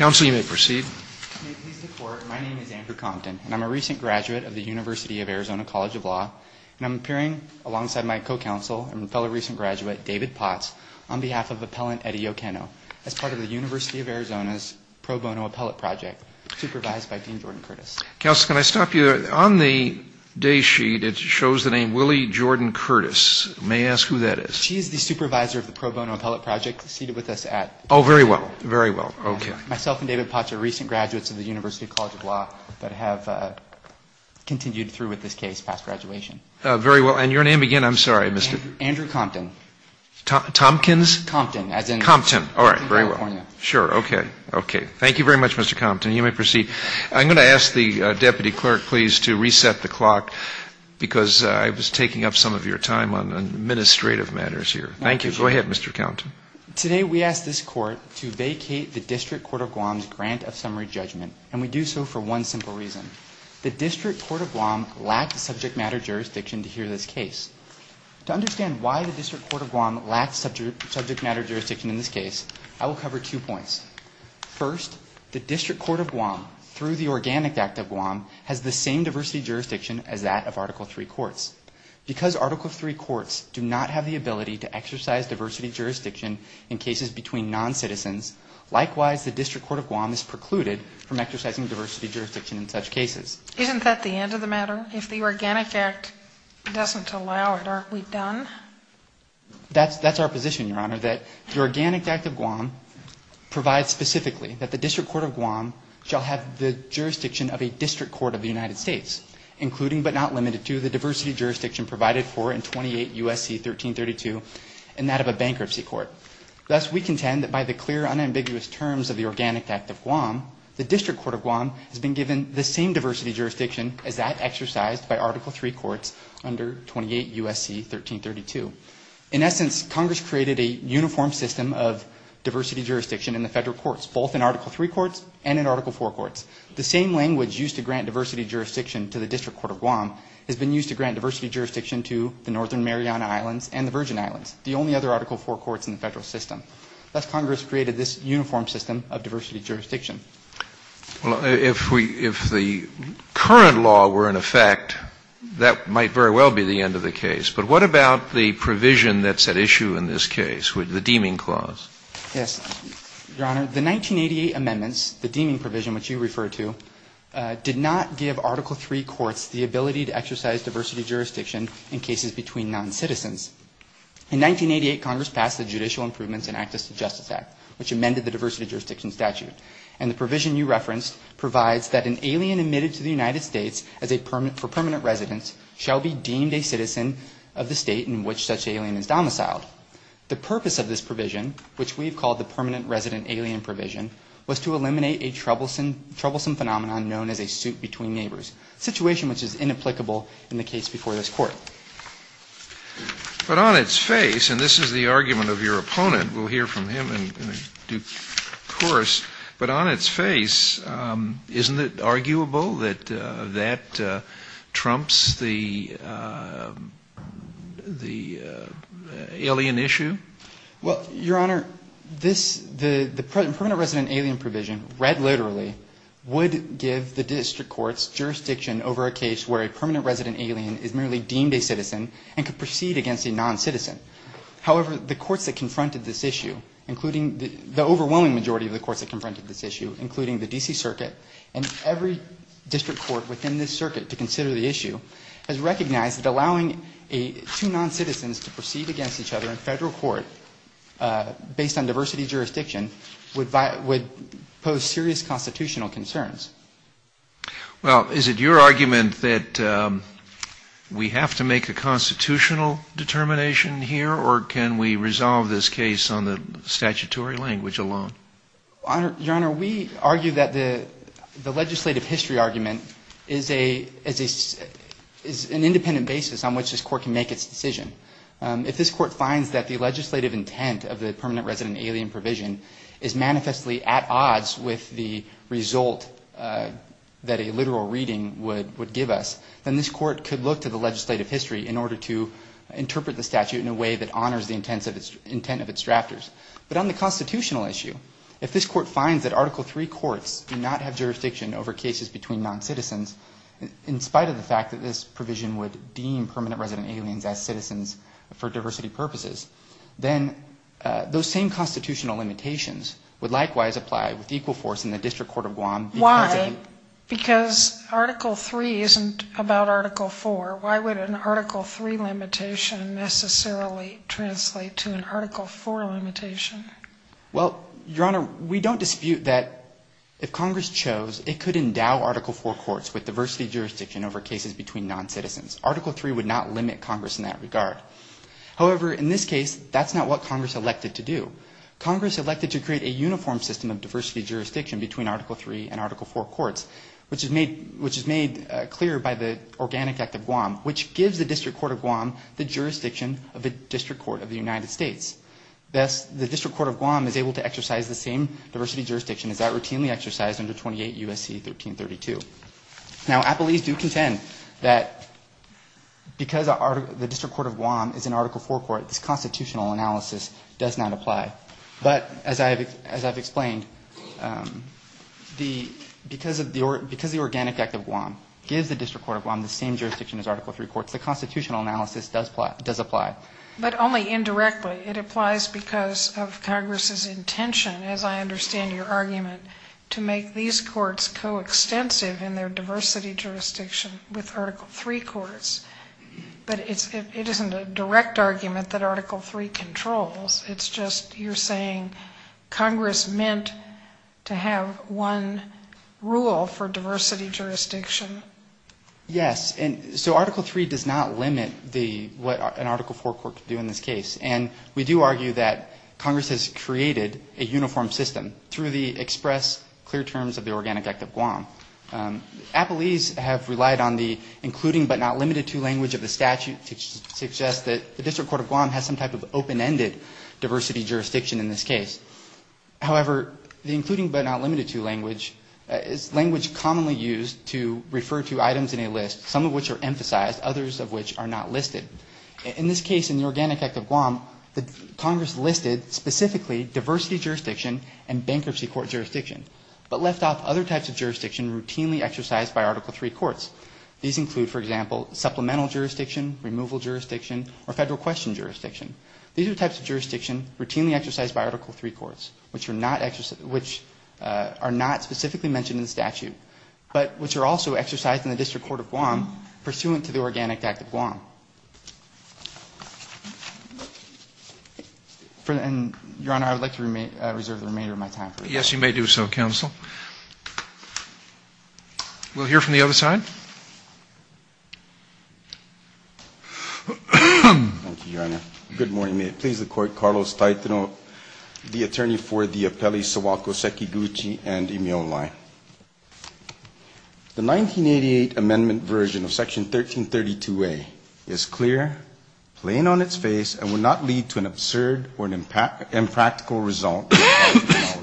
My name is Andrew Compton, and I'm a recent graduate of the University of Arizona College of Law, and I'm appearing alongside my co-counsel and fellow recent graduate, David Potts, on behalf of Appellant Eddie Yokeno, as part of the University of Arizona's Pro Bono Appellate Project, supervised by Dean Jordan Curtis. Counsel, can I stop you there? On the day sheet, it shows the name Willie Jordan Curtis. May I ask who that is? She is the supervisor of the Pro Bono Appellate Project, seated with us at… Oh, very well. Very well. Okay. Myself and David Potts are recent graduates of the University College of Law, but have continued through with this case past graduation. Very well. And your name again? I'm sorry. Andrew Compton. Tompkins? Compton, as in… Compton. All right. Very well. …in California. Sure. Okay. Okay. Thank you very much, Mr. Compton. You may proceed. I'm going to ask the deputy clerk, please, to reset the clock, because I was taking up some of your time on administrative matters here. Thank you. Go ahead, Mr. Compton. Today, we ask this court to vacate the District Court of Guam's grant of summary judgment, and we do so for one simple reason. The District Court of Guam lacked subject matter jurisdiction to hear this case. To understand why the District Court of Guam lacked subject matter jurisdiction in this case, I will cover two points. First, the District Court of Guam, through the Organic Act of Guam, has the same diversity jurisdiction as that of Article III courts. Because Article III courts do not have the ability to exercise diversity jurisdiction in cases between noncitizens, likewise, the District Court of Guam is precluded from exercising diversity jurisdiction in such cases. Isn't that the end of the matter? If the Organic Act doesn't allow it, aren't we done? That's our position, Your Honor, that the Organic Act of Guam provides specifically that the District Court of Guam shall have the jurisdiction of a district court of the United States, including but not limited to the diversity jurisdiction provided for in 28 U.S.C. 1332, and that of a bankruptcy court. Thus, we contend that by the clear, unambiguous terms of the Organic Act of Guam, the District Court of Guam has been given the same diversity jurisdiction as that exercised by Article III courts under 28 U.S.C. 1332. In essence, Congress created a uniform system of diversity jurisdiction in the federal courts, both in Article III courts and in Article IV courts. The same language used to grant diversity jurisdiction to the District Court of Guam has been used to grant diversity jurisdiction to the Northern Mariana Islands and the Virgin Islands, the only other Article IV courts in the federal system. Thus, Congress created this uniform system of diversity jurisdiction. Scalia. Well, if we — if the current law were in effect, that might very well be the end of the case. But what about the provision that's at issue in this case, the deeming clause? Yes. Your Honor, the 1988 amendments, the deeming provision which you referred to, did not give Article III courts the ability to exercise diversity jurisdiction in cases between noncitizens. In 1988, Congress passed the Judicial Improvements and Access to Justice Act, which amended the diversity jurisdiction statute. And the provision you referenced provides that an alien admitted to the United States for permanent residence shall be deemed a citizen of the state in which such alien is domiciled. The purpose of this provision, which we have called the permanent resident alien provision, was to eliminate a troublesome phenomenon known as a suit between neighbors, a situation which is inapplicable in the case before this Court. But on its face — and this is the argument of your opponent, we'll hear from him in due course — but on its face, isn't it arguable that that trumps the alien issue? Well, Your Honor, this — the permanent resident alien provision, read literally, would give the district courts jurisdiction over a case where a permanent resident alien is merely deemed a citizen and could proceed against a noncitizen. However, the courts that confronted this issue, including — the overwhelming majority of the courts that confronted this issue, including the D.C. Circuit and every district court within this circuit to consider the issue, has recognized that allowing two noncitizens to proceed against each other in federal court based on diversity jurisdiction would pose serious constitutional concerns. Well, is it your argument that we have to make a constitutional determination here, or can we resolve this case on the statutory language alone? Your Honor, we argue that the legislative history argument is an independent basis on which this Court can make its decision. If this Court finds that the legislative intent of the permanent resident alien provision is manifestly at odds with the result that a literal reading would give us, then this Court could look to the legislative history in order to interpret the statute in a way that honors the intent of its drafters. But on the constitutional issue, if this Court finds that Article III courts do not have jurisdiction over cases between noncitizens, in spite of the fact that this provision would deem permanent resident aliens as citizens for diversity purposes, then those same constitutional limitations would likewise apply with equal force in the District Court of Guam. Why? Because Article III isn't about Article IV. Why would an Article III limitation necessarily translate to an Article IV limitation? Well, Your Honor, we don't dispute that if Congress chose, it could endow Article IV courts with diversity jurisdiction over cases between noncitizens. Article III would not limit Congress in that regard. However, in this case, that's not what Congress elected to do. Congress elected to create a uniform system of diversity jurisdiction between Article III and Article IV courts, which is made clear by the Organic Act of Guam, which gives the District Court of Guam the jurisdiction of the District Court of the United States. Thus, the District Court of Guam is able to exercise the same diversity jurisdiction as that routinely exercised under 28 U.S.C. 1332. Now, appellees do contend that because the District Court of Guam is an Article IV court, this constitutional analysis does not apply. But as I've explained, because the Organic Act of Guam gives the District Court of Guam the same jurisdiction as Article III courts, the constitutional analysis does apply. But only indirectly. It applies because of Congress's intention, as I understand your argument, to make these courts coextensive in their diversity jurisdiction with Article III courts. But it isn't a direct argument that Article III controls. It's just you're saying Congress meant to have one rule for diversity jurisdiction. Yes. And so Article III does not limit what an Article IV court can do in this case. And we do argue that Congress has created a uniform system through the express, clear terms of the Organic Act of Guam. Appellees have relied on the including but not limited to language of the statute to suggest that the District Court of Guam has some type of open-ended diversity jurisdiction in this case. However, the including but not limited to language is language commonly used to refer to items in a list, some of which are emphasized, others of which are not listed. In this case, in the Organic Act of Guam, Congress listed specifically diversity jurisdiction and bankruptcy court jurisdiction, but left off other types of jurisdiction routinely exercised by Article III courts. These include, for example, supplemental jurisdiction, removal jurisdiction, or federal question jurisdiction. These are types of jurisdiction routinely exercised by Article III courts, which are not specifically mentioned in the statute, but which are also exercised in the District Court of Guam pursuant to the Organic Act of Guam. Your Honor, I would like to reserve the remainder of my time. Yes, you may do so, counsel. We'll hear from the other side. Thank you, Your Honor. Good morning. May it please the Court, Carlos Taitano, the attorney for the Appellee Sawako Sekiguchi and Imeola. The 1988 amendment version of Section 1332A is clear, plain on its face, and will not lead to an absurd or an impractical result In my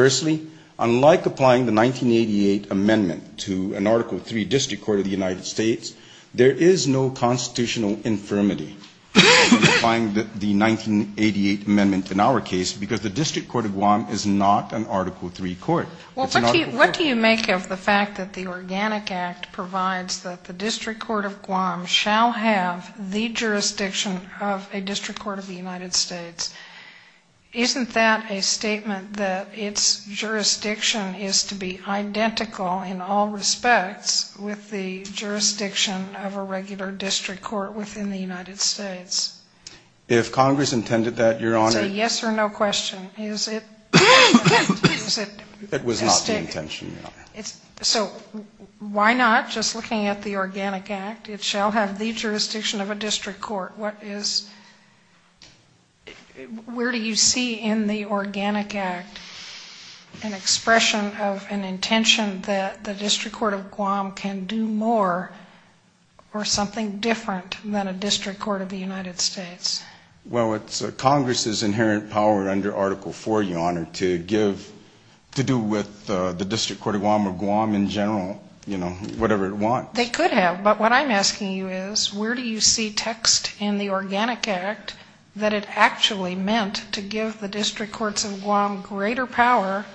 opinion, unlike applying the 1988 amendment to an Article III District Court of the United States, there is no constitutional infirmity in applying the 1988 amendment in our case, because the District Court of Guam is not an Article III court. It's an Article III court. The jurisdiction is to be identical in all respects with the jurisdiction of a regular District Court within the United States. If Congress intended that, Your Honor, it was not the intention, Your Honor. So why not, just looking at the Organic Act, it shall have the jurisdiction of a District Court. Where do you see in the Organic Act an expression of an intention that the District Court of Guam can do more or something different than a District Court of the United States? Well, it's Congress's inherent power under Article IV, Your Honor, to do with the District Court of Guam or Guam in general, you know, whatever it wants. They could have, but what I'm asking you is where do you see text in the Organic Act that it actually meant to give the District Courts of Guam greater power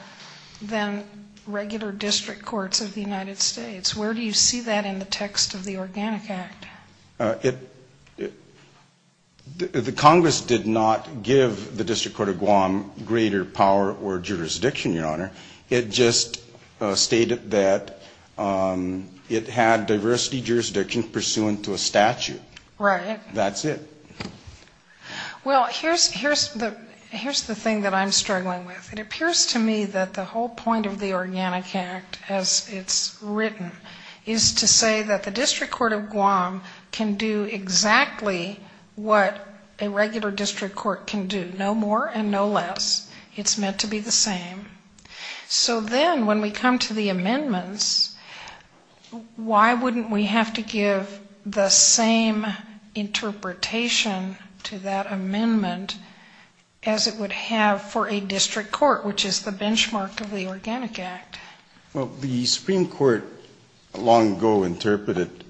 than regular District Courts of the United States? Where do you see that in the text of the Organic Act? The Congress did not give the District Court of Guam greater power or jurisdiction, Your Honor. It just stated that it had diversity jurisdiction pursuant to a statute. That's it. Well, here's the thing that I'm struggling with. It appears to me that the whole point of the Organic Act as it's written is to say that the District Court of Guam can do exactly what a regular District Court can do, no more and no less. It's meant to be the same. So then when we come to the amendments, why wouldn't we have to give the same interpretation to that amendment as it would have for a District Court, which is the benchmark of the Organic Act? Well, the Supreme Court long ago interpreted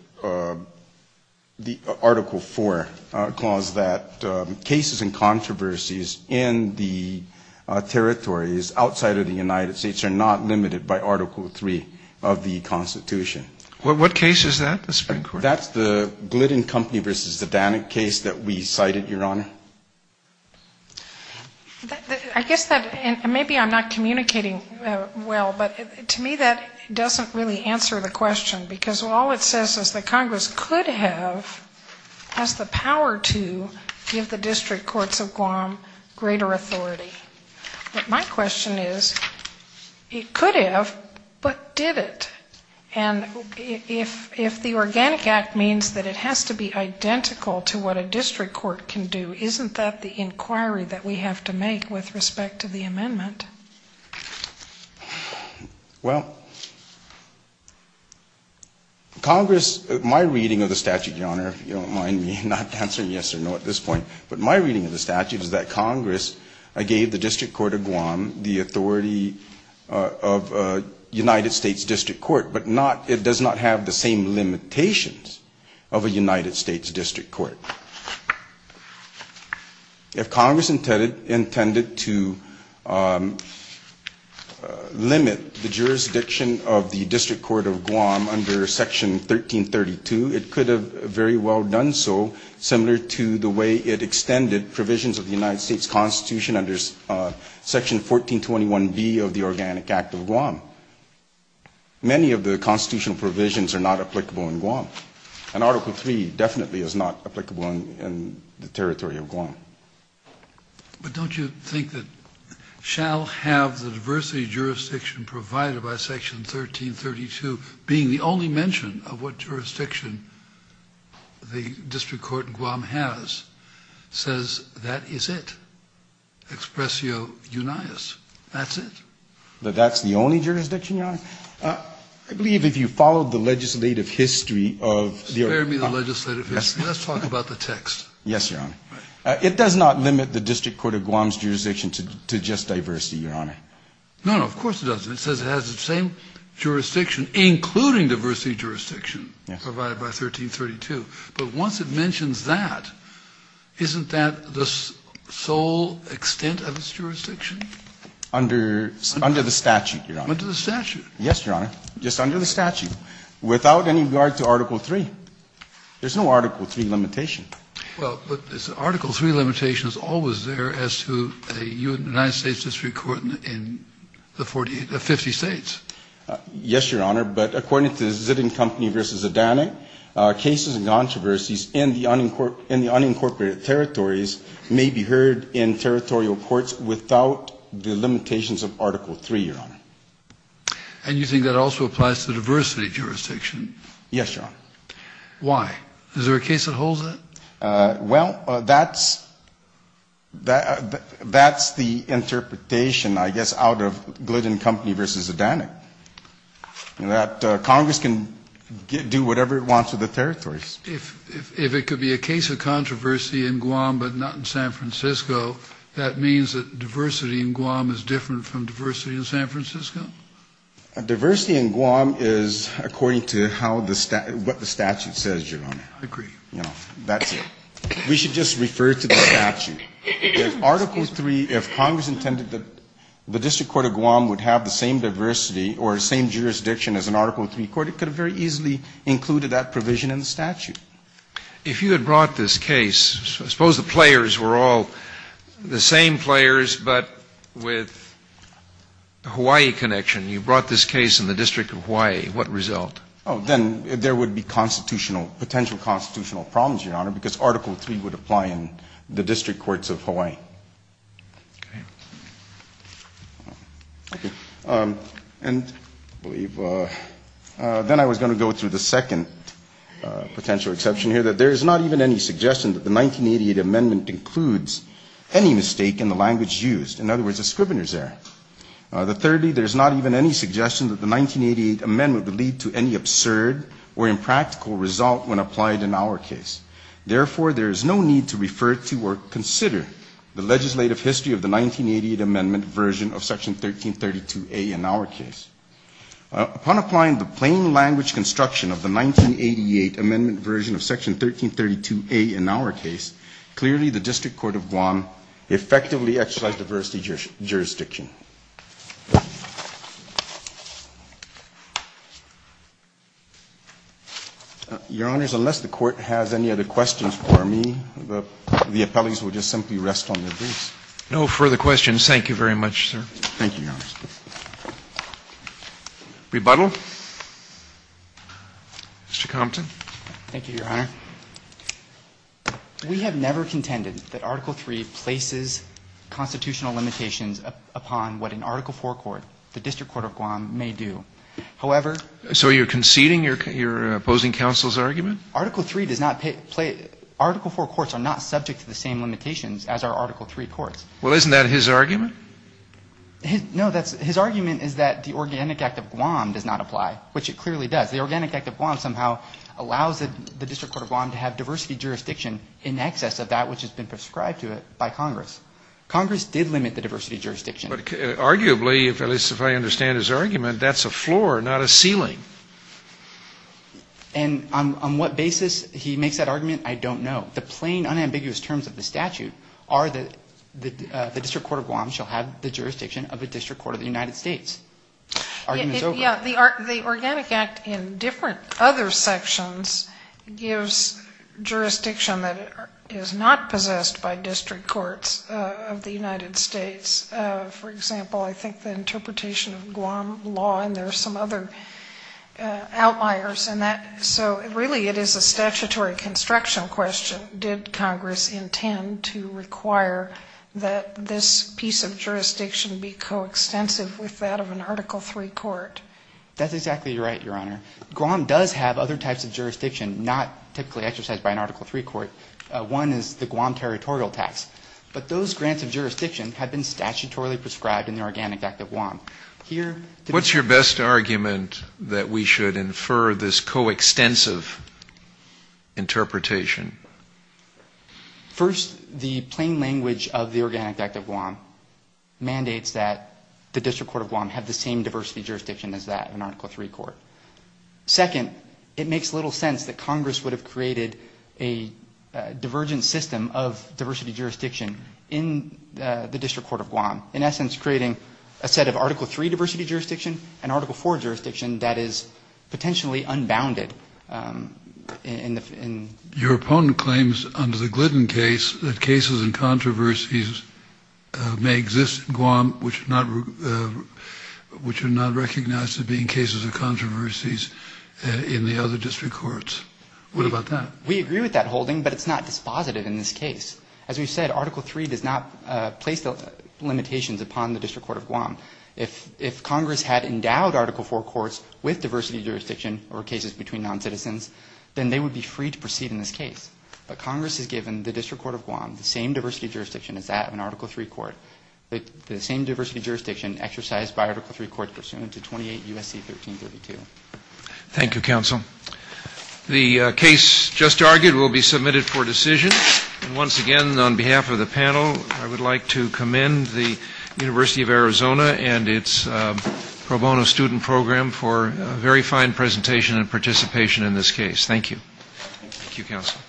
the Article IV clause that case-by-case interpretation of the Organic Act as a And the cases and controversies in the territories outside of the United States are not limited by Article III of the Constitution. What case is that, the Supreme Court? That's the Glidden Company v. Zadanek case that we cited, Your Honor. I guess that, and maybe I'm not communicating well, but to me that doesn't really answer the question, because all it says is that Congress could have, has the power to give the District Courts of Guam greater authority. But my question is, it could have, but did it? And if the Organic Act means that it has to be identical to what a District Court can do, is that the District Courts of Guam that we have to make with respect to the amendment? Well, Congress, my reading of the statute, Your Honor, if you don't mind me not answering yes or no at this point, but my reading of the statute is that Congress gave the District Court of Guam the authority of a United States District Court, but not, it does not have the same limitations of a United States District Court. If Congress intended to limit the jurisdiction of the District Court of Guam under Section 1332, it could have very well done so, similar to the way it extended provisions of the United States Constitution under Section 1421B of the Organic Act of Guam. Many of the constitutional provisions are not applicable in Guam. And Article 3 definitely is not applicable in the territory of Guam. But don't you think that shall have the diversity of jurisdiction provided by Section 1332 being the only mention of what jurisdiction the District Court in Guam has, says that is it, expressio unias, that's it? But that's the only jurisdiction, Your Honor? Let's talk about the text. Yes, Your Honor. It does not limit the District Court of Guam's jurisdiction to just diversity, Your Honor. No, no, of course it doesn't. It says it has the same jurisdiction, including diversity jurisdiction provided by 1332. But once it mentions that, isn't that the sole extent of its jurisdiction? Under the statute, Your Honor. Under the statute? Yes, Your Honor, just under the statute, without any regard to Article 3. There's no Article 3 limitation. Well, but the Article 3 limitation is always there as to a United States District Court in the 40 or 50 States. Yes, Your Honor, but according to Zidding Company v. Zadanek, cases and controversies in the unincorporated territories may be heard in territorial courts without the limitations of Article 3, Your Honor. And you think that also applies to diversity jurisdiction? Yes, Your Honor. Why? Is there a case that holds that? Well, that's the interpretation, I guess, out of Glidden Company v. Zadanek, that Congress can do whatever it wants with the territories. If it could be a case of controversy in Guam but not in San Francisco, that means that diversity in Guam is different from diversity in San Francisco? Diversity in Guam is according to how the statute, what the statute says, Your Honor. I agree. That's it. We should just refer to the statute. If Article 3, if Congress intended that the District Court of Guam would have the same diversity or same jurisdiction as an Article 3 court, it could have very easily included that provision in the statute. If you had brought this case, suppose the players were all the same players but with Hawaii jurisdiction, you brought this case in the District of Hawaii, what result? Oh, then there would be constitutional, potential constitutional problems, Your Honor, because Article 3 would apply in the District Courts of Hawaii. Okay. And then I was going to go through the second potential exception here, that there is not even any suggestion that the 1988 amendment includes any mistake in the language used. In other words, a scrivener's error. Thirdly, there is not even any suggestion that the 1988 amendment would lead to any absurd or impractical result when applied in our case. Therefore, there is no need to refer to or consider the legislative history of the 1988 amendment version of Section 1332A in our case. Upon applying the plain language construction of the 1988 amendment version of Section 1332A in our case, clearly the District Court of Guam effectively exercised diversity jurisdiction. Your Honors, unless the Court has any other questions for me, the appellees will just simply rest on their boots. No further questions. Thank you very much, sir. Thank you, Your Honors. Rebuttal. Mr. Compton. Thank you, Your Honor. We have never contended that Article III places constitutional limitations upon what an Article IV court, the District Court of Guam, may do. However ---- So you're conceding your opposing counsel's argument? Article III does not play ---- Article IV courts are not subject to the same limitations as our Article III courts. Well, isn't that his argument? No, that's ---- his argument is that the Organic Act of Guam does not apply, which it clearly does. The Organic Act of Guam somehow allows the District Court of Guam to have diversity jurisdiction in excess of that which has been prescribed to it by Congress. Congress did limit the diversity jurisdiction. But arguably, at least if I understand his argument, that's a floor, not a ceiling. And on what basis he makes that argument, I don't know. The plain, unambiguous terms of the statute are that the District Court of Guam shall have the jurisdiction of the District Court of the United States. The argument is over. Yeah, the Organic Act in different other sections gives jurisdiction that is not possessed by District Courts of the United States. For example, I think the interpretation of Guam law, and there are some other outliers in that. So really it is a statutory construction question. So did Congress intend to require that this piece of jurisdiction be coextensive with that of an Article III court? That's exactly right, Your Honor. Guam does have other types of jurisdiction not typically exercised by an Article III court. One is the Guam territorial tax. But those grants of jurisdiction have been statutorily prescribed in the Organic Act of Guam. What's your best argument that we should infer this coextensive interpretation? First, the plain language of the Organic Act of Guam mandates that the District Court of Guam have the same diversity jurisdiction as that of an Article III court. Second, it makes little sense that Congress would have created a divergent system in essence creating a set of Article III diversity jurisdiction and Article IV jurisdiction that is potentially unbounded. Your opponent claims under the Glidden case that cases and controversies may exist in Guam which are not recognized as being cases of controversies in the other District Courts. What about that? We agree with that holding, but it's not dispositive in this case. As we've said, Article III does not place limitations upon the District Court of Guam. If Congress had endowed Article IV courts with diversity jurisdiction or cases between noncitizens, then they would be free to proceed in this case. But Congress has given the District Court of Guam the same diversity jurisdiction as that of an Article III court, the same diversity jurisdiction exercised by Article III courts pursuant to 28 U.S.C. 1332. Thank you, counsel. The case just argued will be submitted for decision. Once again, on behalf of the panel, I would like to commend the University of Arizona and its pro bono student program for a very fine presentation and participation in this case. Thank you. Thank you, counsel.